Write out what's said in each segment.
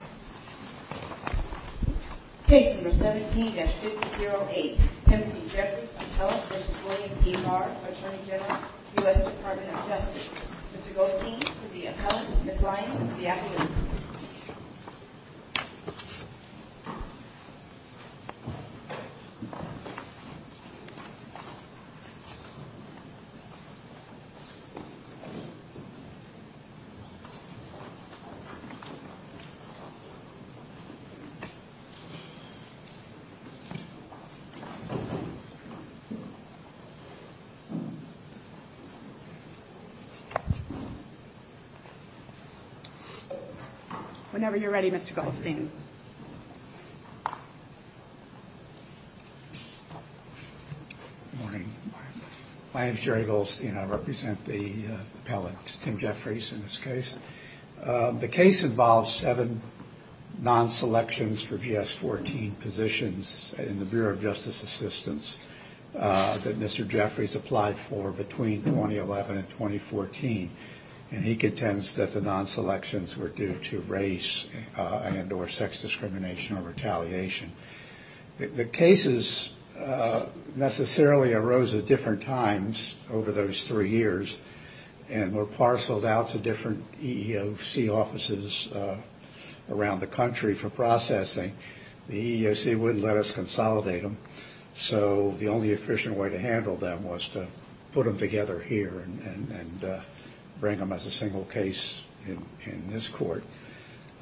Attorney General, U.S. Department of Justice. Mr. Goldstein for the appellant, Ms. Lyons for the applicant. Whenever you're ready, Mr. Goldstein. Good morning. My name is Jerry Goldstein. I represent the appellant, Tim Jeffries in this case. The case involves seven non-selections for GS-14 positions in the Bureau of Justice Assistance that Mr. Jeffries applied for between 2011 and 2014. And he contends that the non-selections were due to race and or sex discrimination or retaliation. The cases necessarily arose at different times over those three years and were parceled out to different EEOC offices around the country for processing. The EEOC wouldn't let us consolidate them, so the only efficient way to handle them was to put them together here and bring them as a single case in this court.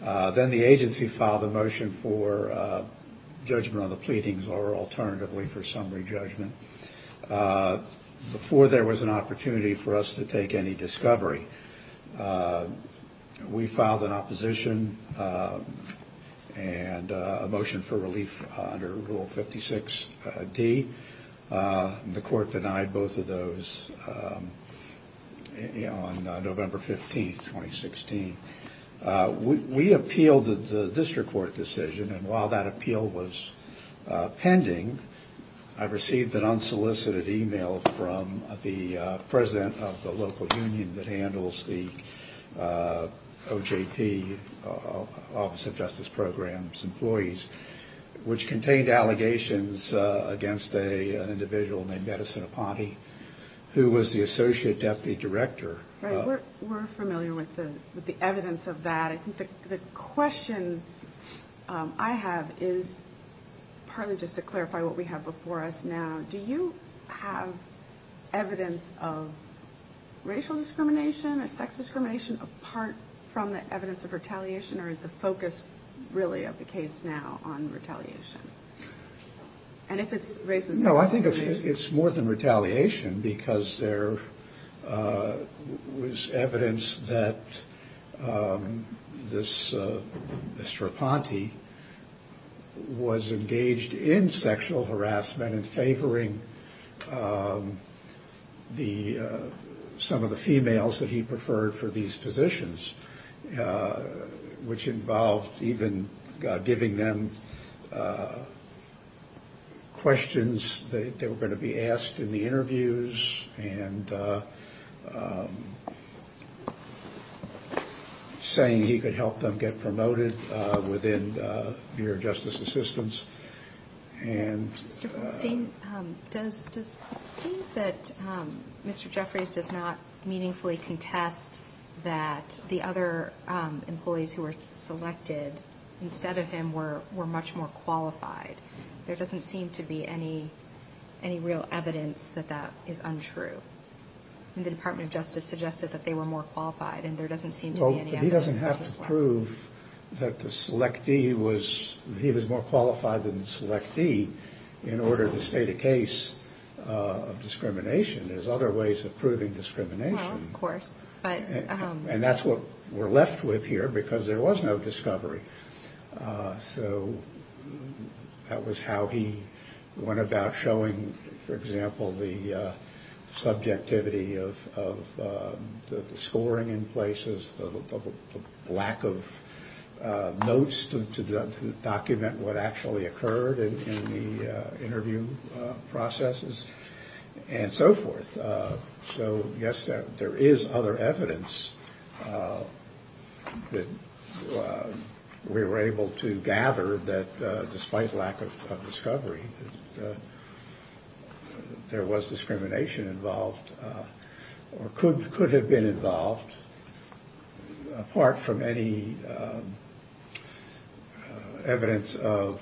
Then the agency filed a motion for judgment on the pleadings or alternatively for summary judgment. Before there was an opportunity for us to take any discovery, we filed an opposition and a motion for relief under Rule 56D. The court denied both of those on November 15, 2016. We appealed the district court decision, and while that appeal was pending, I received an unsolicited email from the president of the local union that handles the OJP, Office of Justice Programs, employees, which contained allegations against an individual named Edison Aponte, who was the associate deputy director. We're familiar with the evidence of that. The question I have is partly just to clarify what we have before us now. Do you have evidence of racial discrimination or sex discrimination apart from the evidence of retaliation, or is the focus really of the case now on retaliation? I think it's more than retaliation because there was evidence that Mr. Aponte was engaged in sexual harassment in favoring some of the females that he preferred for these positions, which involved even giving them questions that were going to be asked in the interviews and saying he could help them get promoted within mere justice assistance. Mr. Goldstein, it seems that Mr. Jeffries does not meaningfully contest that the other employees who were selected instead of him were much more qualified. There doesn't seem to be any real evidence that that is untrue. The Department of Justice suggested that they were more qualified, and there doesn't seem to be any evidence of that. He was more qualified than the selectee in order to state a case of discrimination. There's other ways of proving discrimination. That's what we're left with here because there was no discovery. So that was how he went about showing, for example, the subjectivity of the scoring in places, the lack of notes to document what actually occurred in the interview processes, and so forth. So, yes, there is other evidence that we were able to gather that, despite lack of discovery, there was discrimination involved or could have been involved, apart from any evidence of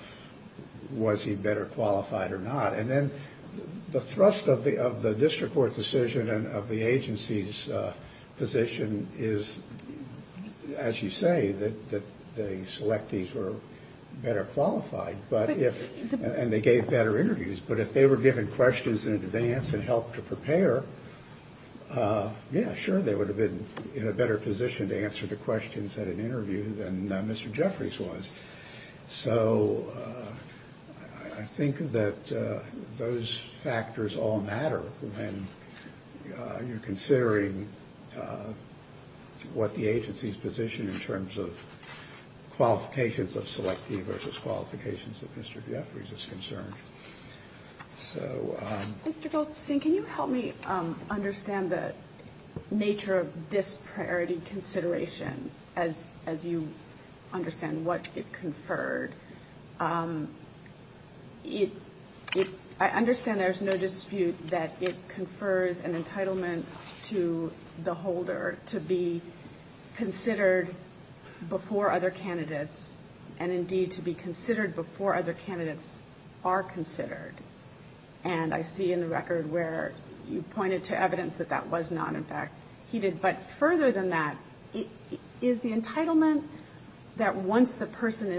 was he better qualified or not. And then the thrust of the district court decision and of the agency's position is, as you say, that the selectees were better qualified, and they gave better interviews. But if they were given questions in advance and helped to prepare, yeah, sure, they would have been in a better position to answer the questions at an interview than Mr. Jeffries was. So I think that those factors all matter when you're considering what the agency's position in terms of qualifications of selectee versus qualifications of Mr. Jeffries is concerned. So... I mean, I don't think there's any dispute that it confers an entitlement to the holder to be considered before other candidates and, indeed, to be considered before other candidates are considered. And I see in the record where you pointed to evidence that that was not, in fact, he did. But further than that, is the entitlement that once the person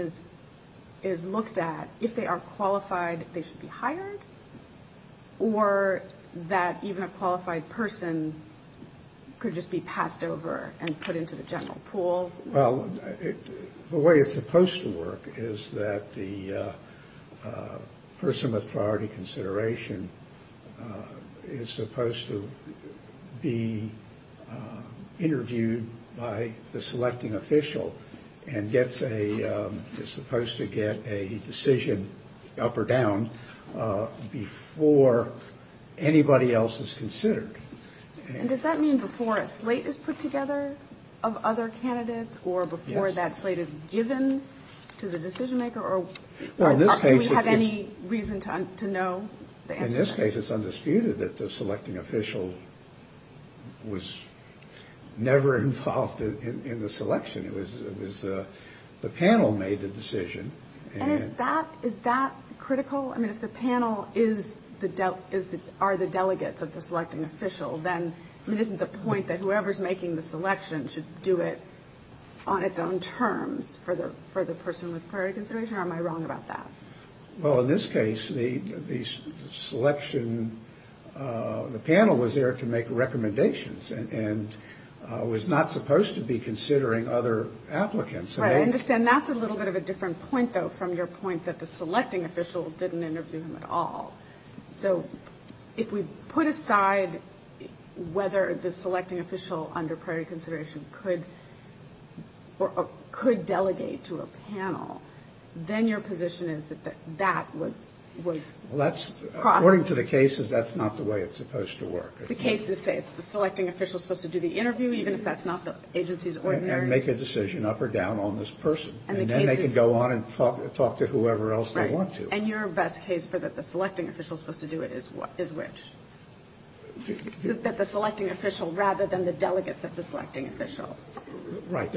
is looked at, if they are qualified, they should be hired? Or that even a qualified person could just be passed over and put into the general pool? Well, the way it's supposed to work is that the person with priority consideration is supposed to be considered before other candidates. And that person is interviewed by the selecting official and gets a, is supposed to get a decision up or down before anybody else is considered. And does that mean before a slate is put together of other candidates or before that slate is given to the decision maker? Or do we have any reason to know the answer to that? Well, in this case, it's undisputed that the selecting official was never involved in the selection. It was the panel made the decision. And is that critical? I mean, if the panel is the, are the delegates of the selecting official, then, I mean, isn't the point that whoever's making the selection should do it on its own terms for the person with priority consideration? Or am I wrong about that? Well, in this case, the selection, the panel was there to make recommendations. And was not supposed to be considering other applicants. Right. I understand that's a little bit of a different point, though, from your point that the selecting official didn't interview him at all. So if we put aside whether the selecting official under priority consideration could, or could delegate to a panel, then your position is that that was, was Well, that's, according to the cases, that's not the way it's supposed to work. The cases say the selecting official is supposed to do the interview, even if that's not the agency's ordinary. And make a decision up or down on this person. And then they can go on and talk to whoever else they want to. Right. And your best case for that the selecting official is supposed to do it is which? That the selecting official rather than the delegates of the selecting official. Right.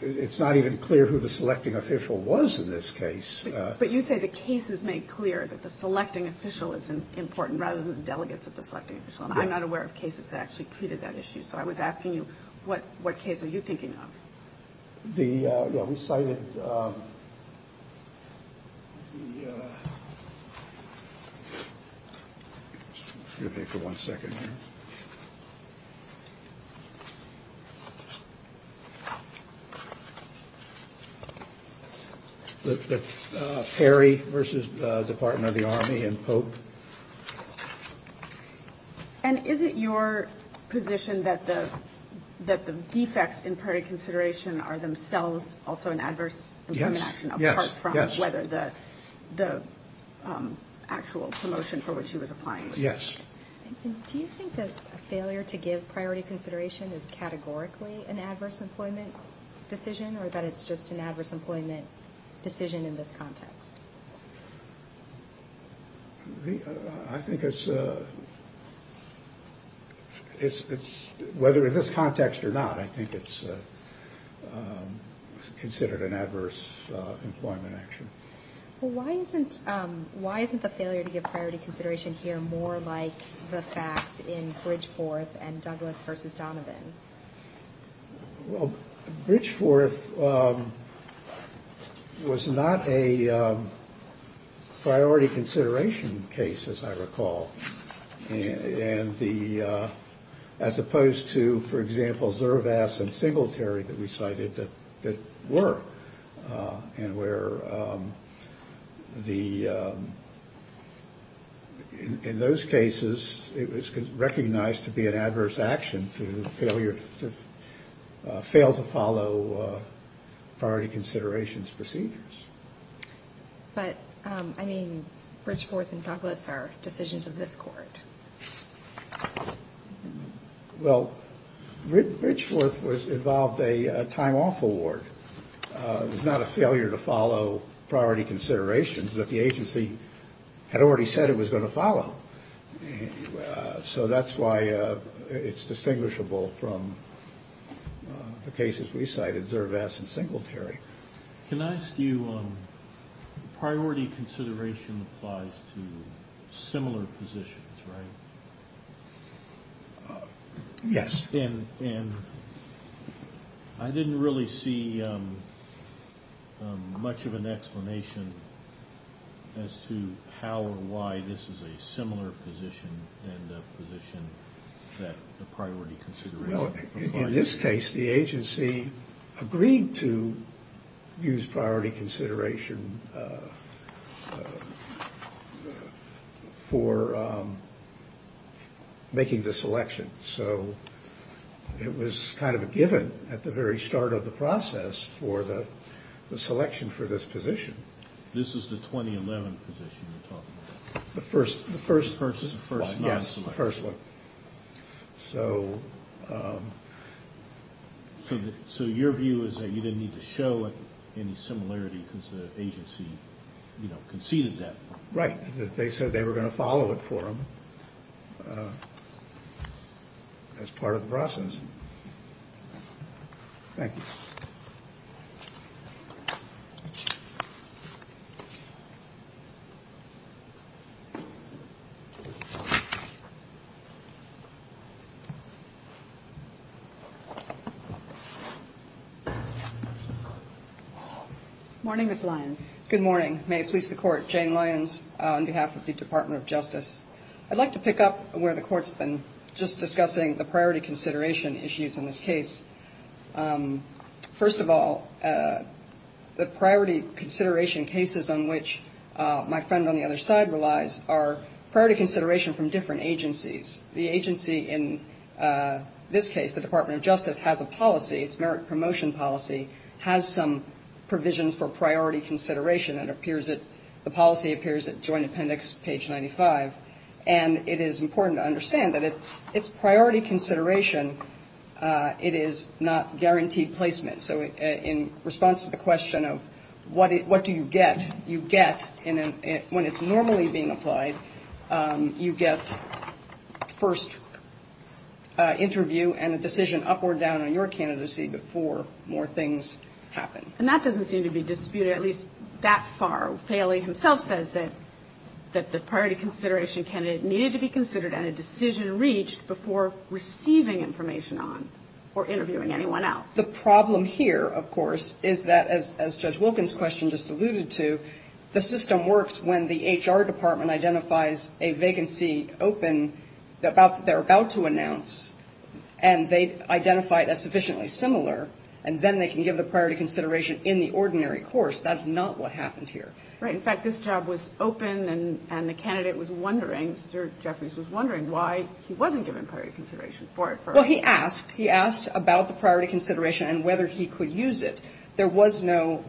It's not even clear who the selecting official was in this case. But you say the case is made clear that the selecting official is important rather than the delegates of the selecting official. And I'm not aware of cases that actually treated that issue. So I was asking you what what case are you thinking of? The yeah, we cited. Yeah. One second. Perry versus Department of the Army and Pope. And is it your position that the that the defects in priority consideration are themselves also an adverse. Yes. Do you think that a failure to give priority consideration is categorically an adverse employment decision or that it's just an adverse employment decision in this context? I think it's it's whether in this context or not, I think it's considered an adverse employment action. Why isn't the failure to give priority consideration here more like the facts in Bridgeforth and Douglas versus Donovan? Bridgeforth was not a priority consideration case, as I recall. And the as opposed to, for example, Zervas and Singletary that we cited that were and where the in those cases, it was recognized to be an adverse action to failure to fail to follow priority considerations procedures. But I mean, Bridgeforth and Douglas are decisions of this Court. Well, Bridgeforth was involved a time off award. It was not a failure to follow priority considerations that the agency had already said it was going to follow. So that's why it's distinguishable from the cases we cited, Zervas and Singletary. Can I ask you, priority consideration applies to similar positions, right? Yes. And I didn't really see much of an explanation as to how or why this is a similar position than the position that the priority consideration applies to. In this case, the agency agreed to use priority consideration for making the selection. So it was kind of a given at the very start of the process for the selection for this position. This is the 2011 position you're talking about? The first one. So your view is that you didn't need to show any similarity because the agency conceded that? Right. They said they were going to follow it for them as part of the process. Thank you. Morning, Ms. Lyons. Good morning. May it please the Court. Jane Lyons on behalf of the Department of Justice. I'd like to pick up where the Court's been just discussing the priority consideration issues in this case. First of all, the priority consideration cases on which my friend on the other side relies are priority consideration from different agencies. The agency in this case, the Department of Justice, has a policy, its merit promotion policy, has some priorities. And it is important to understand that it's priority consideration, it is not guaranteed placement. So in response to the question of what do you get, you get, when it's normally being applied, you get first interview and a decision up or down on your candidacy before more things happen. And that doesn't seem to be disputed, at least that far. Failey himself says that the priority consideration candidate needed to be considered and a decision reached before receiving information on or interviewing anyone else. The problem here, of course, is that, as Judge Wilkins' question just alluded to, the system works when the HR department identifies a vacancy open, they're about to announce, and they've identified a vacancy that's sufficiently similar, and then they can give the priority consideration in the ordinary course. That's not what happened here. Right. In fact, this job was open, and the candidate was wondering, Mr. Jeffries was wondering why he wasn't given priority consideration for it. Well, he asked. He asked about the priority consideration and whether he could use it. There was no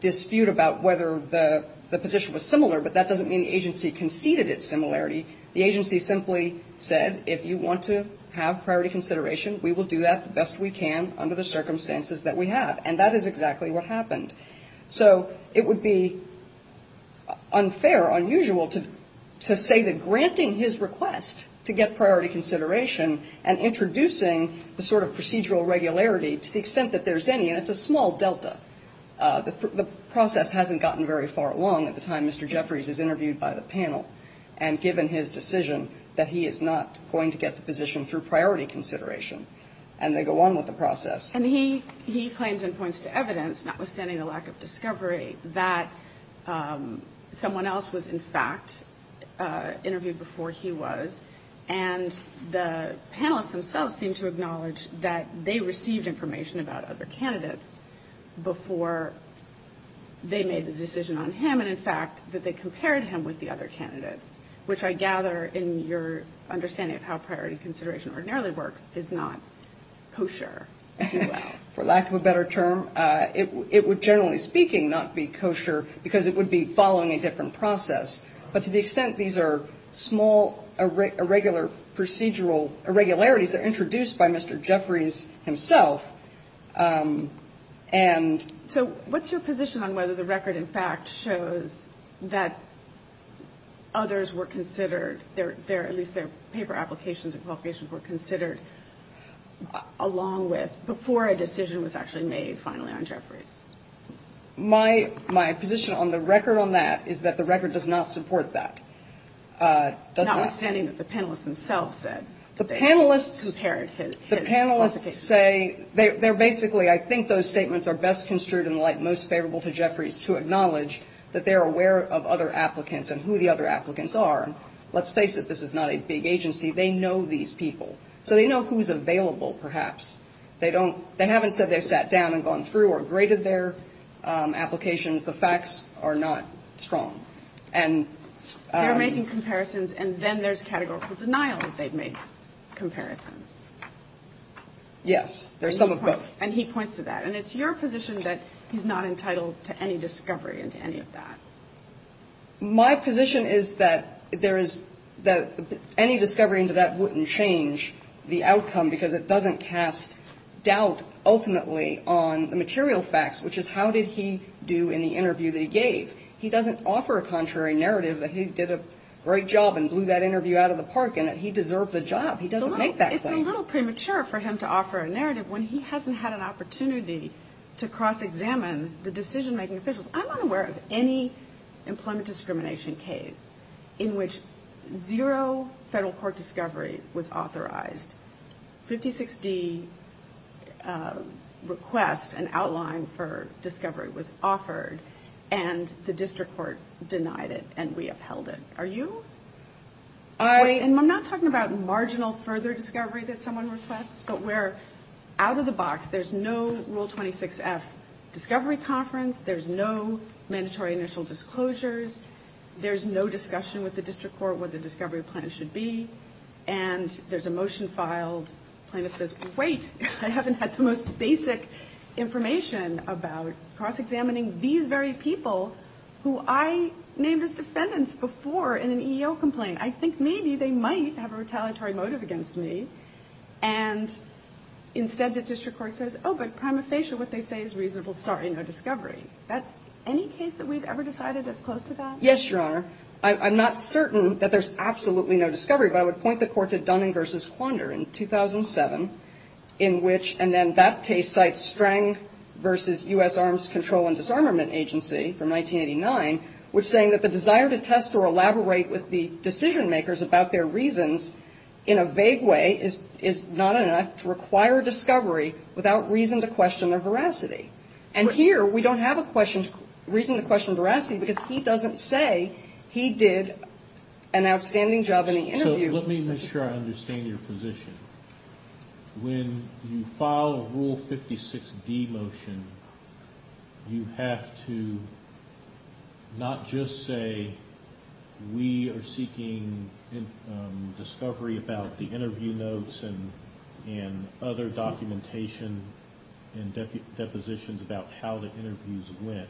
dispute about whether the position was similar, but that doesn't mean the agency conceded its similarity. The agency simply said, if you want to have priority consideration, we will do that the best we can under the circumstances that we have. And that is exactly what happened. So it would be unfair, unusual to say that granting his request to get priority consideration and introducing the sort of procedural regularity to the extent that there's any, and it's a small delta. The process hasn't gotten very far along at the time Mr. Jeffries is interviewed by the panel, and given his decision that he is not going to get the position through priority consideration. And they go on with the process. And he claims and points to evidence, notwithstanding the lack of discovery, that someone else was, in fact, interviewed before he was. And the panelists themselves seem to acknowledge that they received information about other candidates before they made the decision on him and, in fact, that they compared him with the other candidates, which I gather in your understanding of how priority consideration ordinarily works is not kosher. For lack of a better term, it would, generally speaking, not be kosher because it would be following a different process. But to the extent these are small, irregular procedural irregularities, they're introduced by Mr. Jeffries himself, and... So what's your position on whether the record, in fact, shows that others were considered, at least their paper applications and qualifications were considered along with, before a decision was actually made finally on Jeffries? My position on the record on that is that the record does not support that. Notwithstanding that the panelists themselves said that they compared his qualifications. The panelists say they're basically, I think those statements are best construed in the light most favorable to Jeffries to acknowledge that they're aware of other applicants and who the other applicants are. Let's face it, this is not a big agency. They know these people. So they know who's available, perhaps. They don't they haven't said they've sat down and gone through or graded their applications. The facts are not strong. And... They're making comparisons and then there's categorical denial that they've made comparisons. Yes. There's some of both. And he points to that. And it's your position that he's not entitled to any discovery into any of that. My position is that there is that any discovery into that wouldn't change the outcome because it doesn't cast doubt ultimately on the material facts, which is how did he do in the interview that he gave. He doesn't offer a contrary narrative that he did a great job and blew that interview out of the park and that he deserved the job. He doesn't make that claim. It's a little premature for him to offer a narrative when he hasn't had an opportunity to cross-examine the decision-making officials. I'm not aware of any employment discrimination case in which zero federal court discovery was authorized. 56D requests an outline for discovery was offered and the district court denied it and we upheld it. Are you? And I'm not talking about marginal further discovery that someone requests, but we're out of the box. There's no Rule 26F discovery conference. There's no mandatory initial disclosures. There's no discussion with the district court what the discovery plan should be. And there's a motion filed, plaintiff says, wait, I haven't had the most basic information about cross-examining these very people who I named as defendants before in an EEO complaint. I think maybe they might have a retaliatory motive against me. And instead, the district court says, oh, but prima facie, what they say is reasonable. Sorry, no discovery. Is that any case that we've ever decided that's close to that? Yes, Your Honor. I'm not certain that there's absolutely no discovery, but I would point the court to Dunning v. Wander in 2007, in which, and then that case cites Strang v. U.S. Arms Control and Disarmament Agency from 1989, which saying that the desire to test or elaborate with the decision-makers about their reasons in a vague way is not enough to require discovery without reason to question their veracity. And here, we don't have a reason to question veracity, because he doesn't say he did an outstanding job in the interview. So let me make sure I understand your position. When you file a Rule 56D motion, you have to not just say, we are seeking information and discovery about the interview notes and other documentation and depositions about how the interviews went.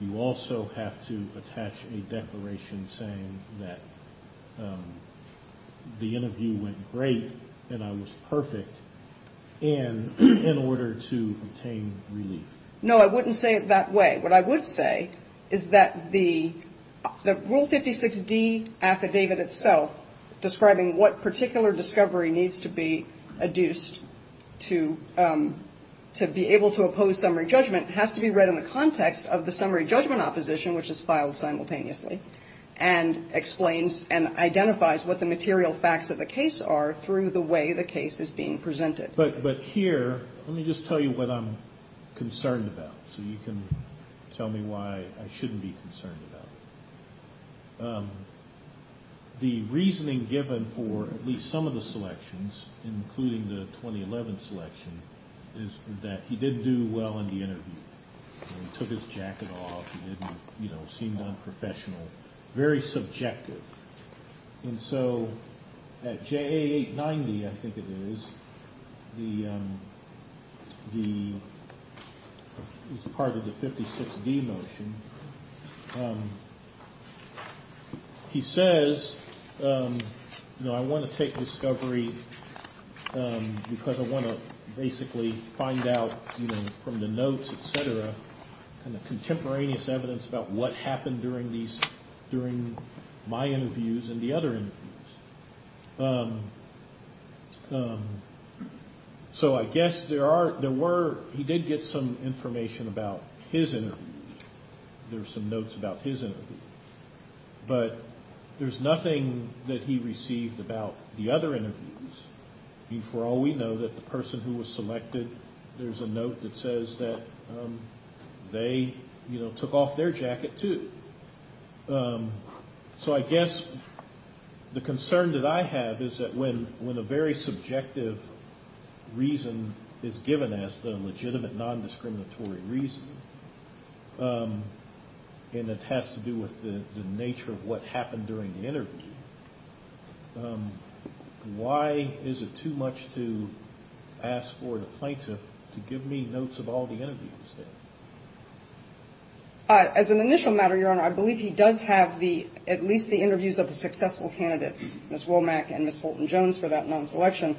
You also have to attach a declaration saying that the interview went great, and I was perfect, in order to obtain relief. No, I wouldn't say it that way. What I would say is that the Rule 56D affidavit itself, describing what particular discovery needs to be adduced to be able to oppose summary judgment, has to be read in the context of the summary judgment opposition, which is filed simultaneously, and explains and identifies what the material facts of the case are through the way the case is being presented. But here, let me just tell you what I'm concerned about, so you can tell me why I shouldn't be concerned about it. The reasoning given for at least some of the selections, including the 2011 selection, is that he did do well in the interview. He took his jacket off, he seemed unprofessional, very subjective. And so at JA 890, I think it is, as part of the 56D motion, he says, you know, I want to take discovery because I want to basically find out, you know, from the notes, et cetera, kind of contemporaneous evidence about what happened during these, during my interviews and the other interviews. So I guess there were, he did get some information about his interview. There were some notes about his interview. But there's nothing that he received about the other interviews. For all we know, that the person who was selected, there's a note that says that they, you know, took off their jacket, too. So I guess the concern that I have is that when a very subjective reason is given as the legitimate nondiscriminatory reason, and it has to do with the nature of what happened during the interview, why is it too much to ask for the plaintiff to give me notes of all the interviews there? As an initial matter, Your Honor, I believe he does have the, at least the interviews of the successful candidates, Ms. Womack and Ms. Fulton-Jones, for that month's election.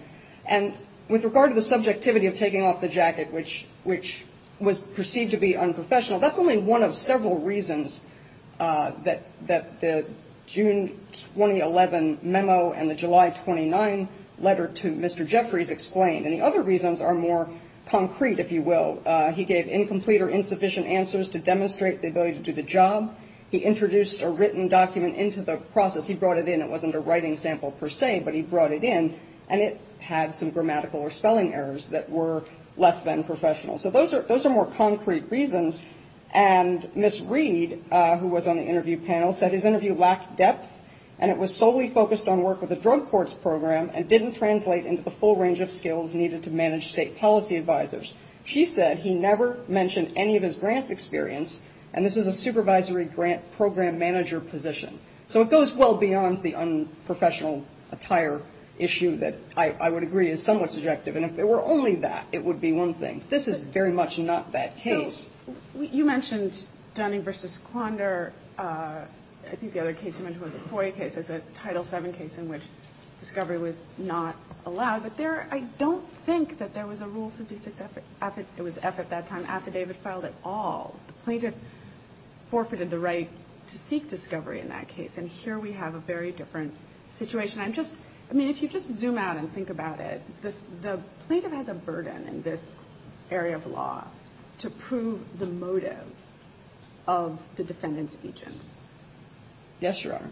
And with regard to the subjectivity of taking off the jacket, which was perceived to be unprofessional, that's only one of several reasons that the June 2011 memo and the July 29 letter to Mr. Jeffries explained. And the other reasons are more concrete, if you will. He gave incomplete or insufficient answers to demonstrate the ability to do the job. He introduced a written document into the process. He brought it in. It wasn't a writing sample, per se, but he brought it in. And it had some grammatical or spelling errors that were less than professional. So those are more concrete reasons. And Ms. Reed, who was on the interview panel, said his interview lacked depth, and it was solely focused on work with the drug courts program, and didn't translate into the full range of skills needed to manage state policy advisors. She said he never mentioned any of his grants experience, and this is a supervisory grant program manager position. So it goes well beyond the unprofessional attire issue that I would agree is somewhat subjective. And if it were only that, it would be one thing. This is very much not that case. So you mentioned Dunning v. Quandor. I think the other case you mentioned was a FOIA case. It's a Title VII case in which discovery was not allowed. But I don't think that there was a Rule 56, it was F at that time, affidavit filed at all. The plaintiff forfeited the right to seek discovery in that case, and here we have a very different situation. I mean, if you just zoom out and think about it, the plaintiff has a burden in this area of law to prove the motive of the defendant's agents. Yes, Your Honor.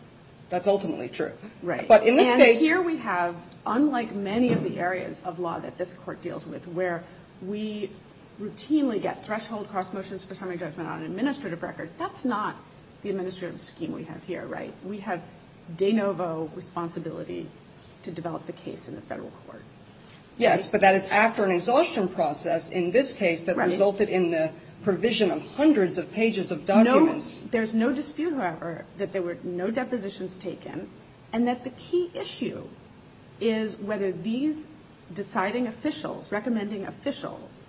That's ultimately true. Right. But in this case ---- And here we have, unlike many of the areas of law that this Court deals with, where we routinely get threshold cross motions for summary judgment on an administrative record, that's not the administrative scheme we have here, right? We have de novo responsibility to develop the case in the Federal Court. Yes, but that is after an exhaustion process in this case that resulted in the provision of hundreds of pages of documents. There's no dispute, however, that there were no depositions taken, and that the key issue is whether these deciding officials, recommending officials,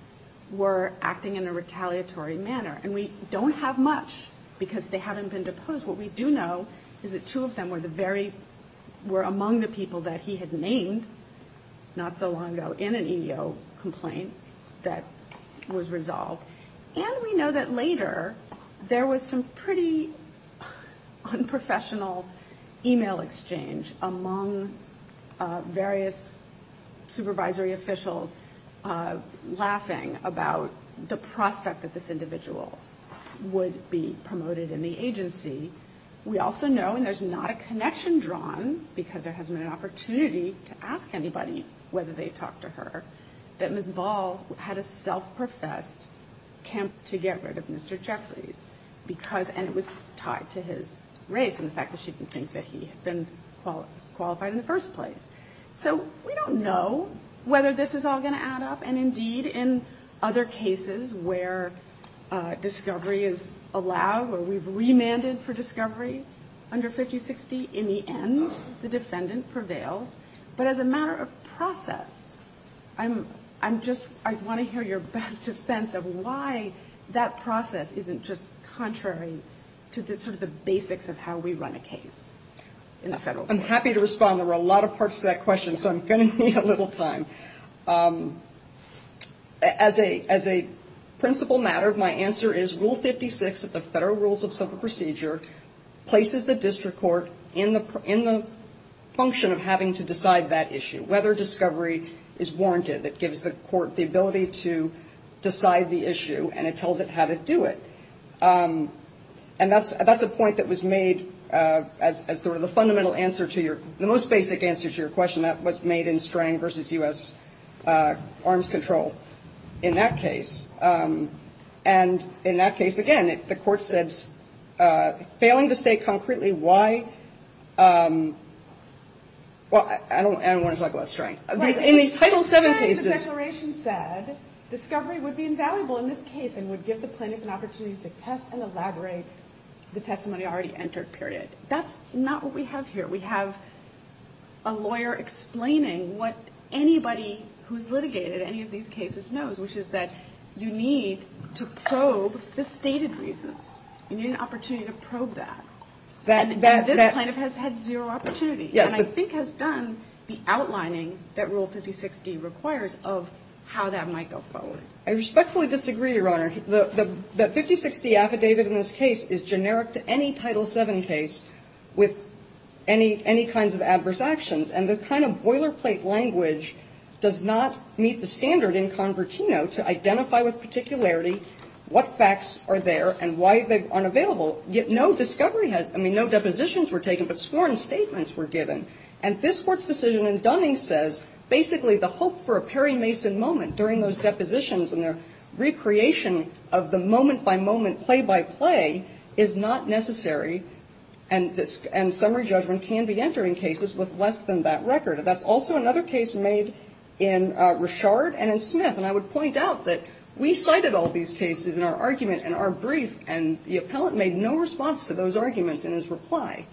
were acting in a retaliatory manner. And we don't have much because they haven't been deposed. What we do know is that two of them were the very ---- were among the people that he had named not so long ago in an EEO complaint that was resolved. And we know that later there was some pretty unprofessional e-mail exchange among various supervisory officials laughing about the prospect that this individual would be promoted in the agency. We also know, and there's not a connection drawn, because there hasn't been an opportunity to ask anybody whether they talked to Mr. Jeffries because ---- and it was tied to his race and the fact that she didn't think that he had been qualified in the first place. So we don't know whether this is all going to add up. And, indeed, in other cases where discovery is allowed, where we've remanded for discovery under 5060, in the end the defendant prevails. But as a matter of process, I'm just ---- I want to hear your best defense of why that process isn't just contrary to the sort of the basics of how we run a case in the Federal Court. I'm happy to respond. There were a lot of parts to that question, so I'm going to need a little time. As a principle matter, my answer is Rule 56 of the Federal Rules of Civil Procedure places the district court in the function of having to decide that issue, whether discovery is warranted, that gives the court the ability to decide the issue, and it tells it how to do it. And that's a point that was made as sort of the fundamental answer to your ---- the most basic answer to your question. That was made in Strang v. U.S. Arms Control in that case. And in that case, again, the court said, failing to say concretely why ---- well, I don't want to talk about Strang. In these Title VII cases ---- That's not what we have here. We have a lawyer explaining what anybody who's litigated any of these cases knows, which is that you need to probe the stated reasons. You need an opportunity to probe that. And this plaintiff has had zero opportunity, and I think has done the outlining that Rule 56d requires of how that might go forward. I respectfully disagree, Your Honor. The 56d affidavit in this case is generic to any Title VII case with any kinds of adverse actions, and the kind of boilerplate language does not meet the standard in Convertino to identify with particularity what facts are there and why they aren't available, yet no discovery has ---- I mean, no depositions were taken, but sworn statements were given. And this Court's decision in Dunning says basically the hope for a Perry Mason moment during those depositions and the recreation of the moment-by-moment, play-by-play is not necessary and summary judgment can be entered in cases with less than that record. And that's also another case made in Richard and in Smith. And I would point out that we cited all these cases in our argument, in our brief, and the appellate made no response to those arguments in his reply.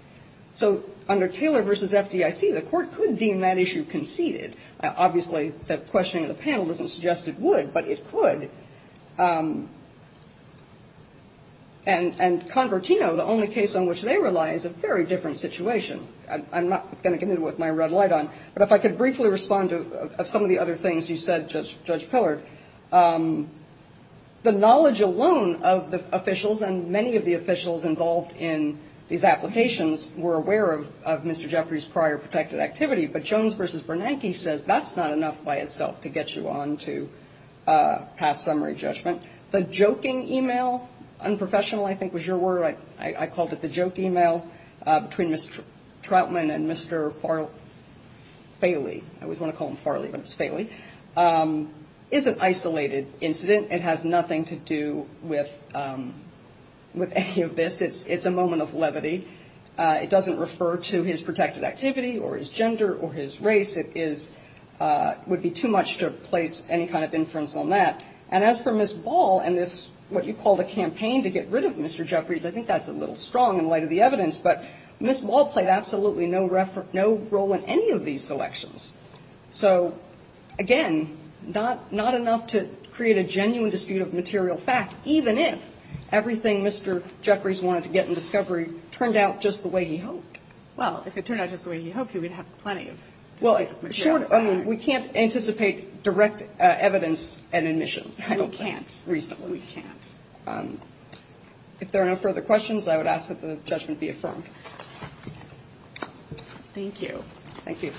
So under Taylor v. FDIC, the Court could deem that issue conceded. Obviously, the questioning of the panel doesn't suggest it would, but it could. And Convertino, the only case on which they rely, is a very different situation. I'm not going to get into it with my red light on, but if I could briefly respond to some of the other things you said, Judge Pillard. The knowledge alone of the officials and many of the officials involved in these applications were aware of Mr. Jeffrey's prior protected activity. But Jones v. Bernanke says that's not enough by itself to get you on to past summary judgment. The joking e-mail, unprofessional, I think, was your word. I called it the joke e-mail between Mr. Troutman and Mr. Farley. I always want to call him Farley, but it's Faley. Farley is an isolated incident. It has nothing to do with any of this. It's a moment of levity. It doesn't refer to his protected activity or his gender or his race. It would be too much to place any kind of inference on that. And as for Ms. Ball and this, what you call the campaign to get rid of Mr. Jeffreys, I think that's a little strong in light of the evidence. But Ms. Ball played absolutely no role in any of these selections. So, again, not enough to create a genuine dispute of material fact, even if everything Mr. Jeffreys wanted to get in discovery turned out just the way he hoped. Well, if it turned out just the way he hoped, he would have plenty of material to find. Well, sure. I mean, we can't anticipate direct evidence and admission, I don't think, reasonably. We can't. We can't. If there are no further questions, I would ask that the judgment be affirmed. Thank you. Thank you.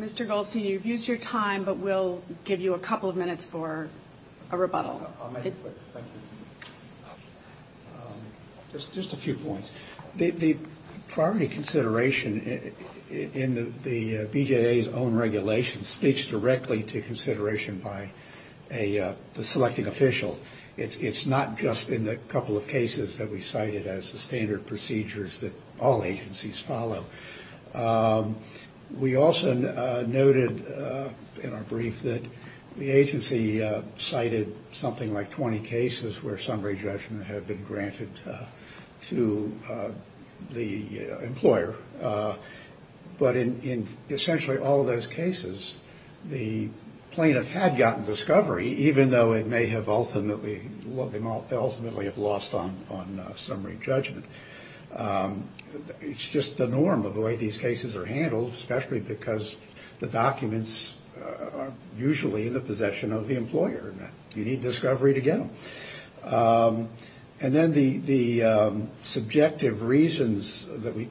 Mr. Goldstein, you've used your time, but we'll give you a couple of minutes for a rebuttal. I'll make it quick. Thank you. Just a few points. The priority consideration in the BJA's own regulation speaks directly to consideration by the selecting official. It's not just in the couple of cases that we cited as the standard procedures that all agencies follow. We also noted in our brief that the agency cited something like 20 cases where summary judgment had been granted to the employer. But in essentially all those cases, the plaintiff had gotten discovery, even though it may have ultimately lost on summary judgment. It's just the norm of the way these cases are handled, especially because the documents are usually in the possession of the employer. You need discovery to get them. And then the subjective reasons that we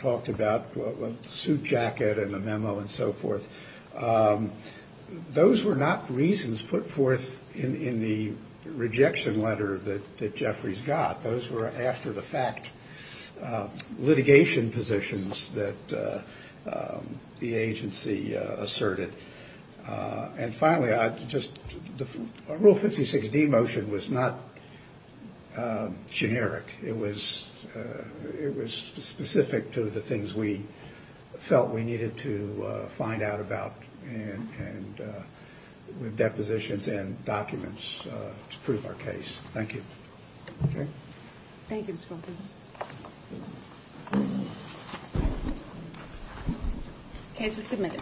talked about, the suit jacket and the memo and so forth, those were not reasons put forth in the rejection letter that Jeffries got. Those were after-the-fact litigation positions that the agency asserted. And finally, Rule 56D motion was not generic. It was specific to the things we felt we needed to find out about with depositions and documents to prove our case. Thank you.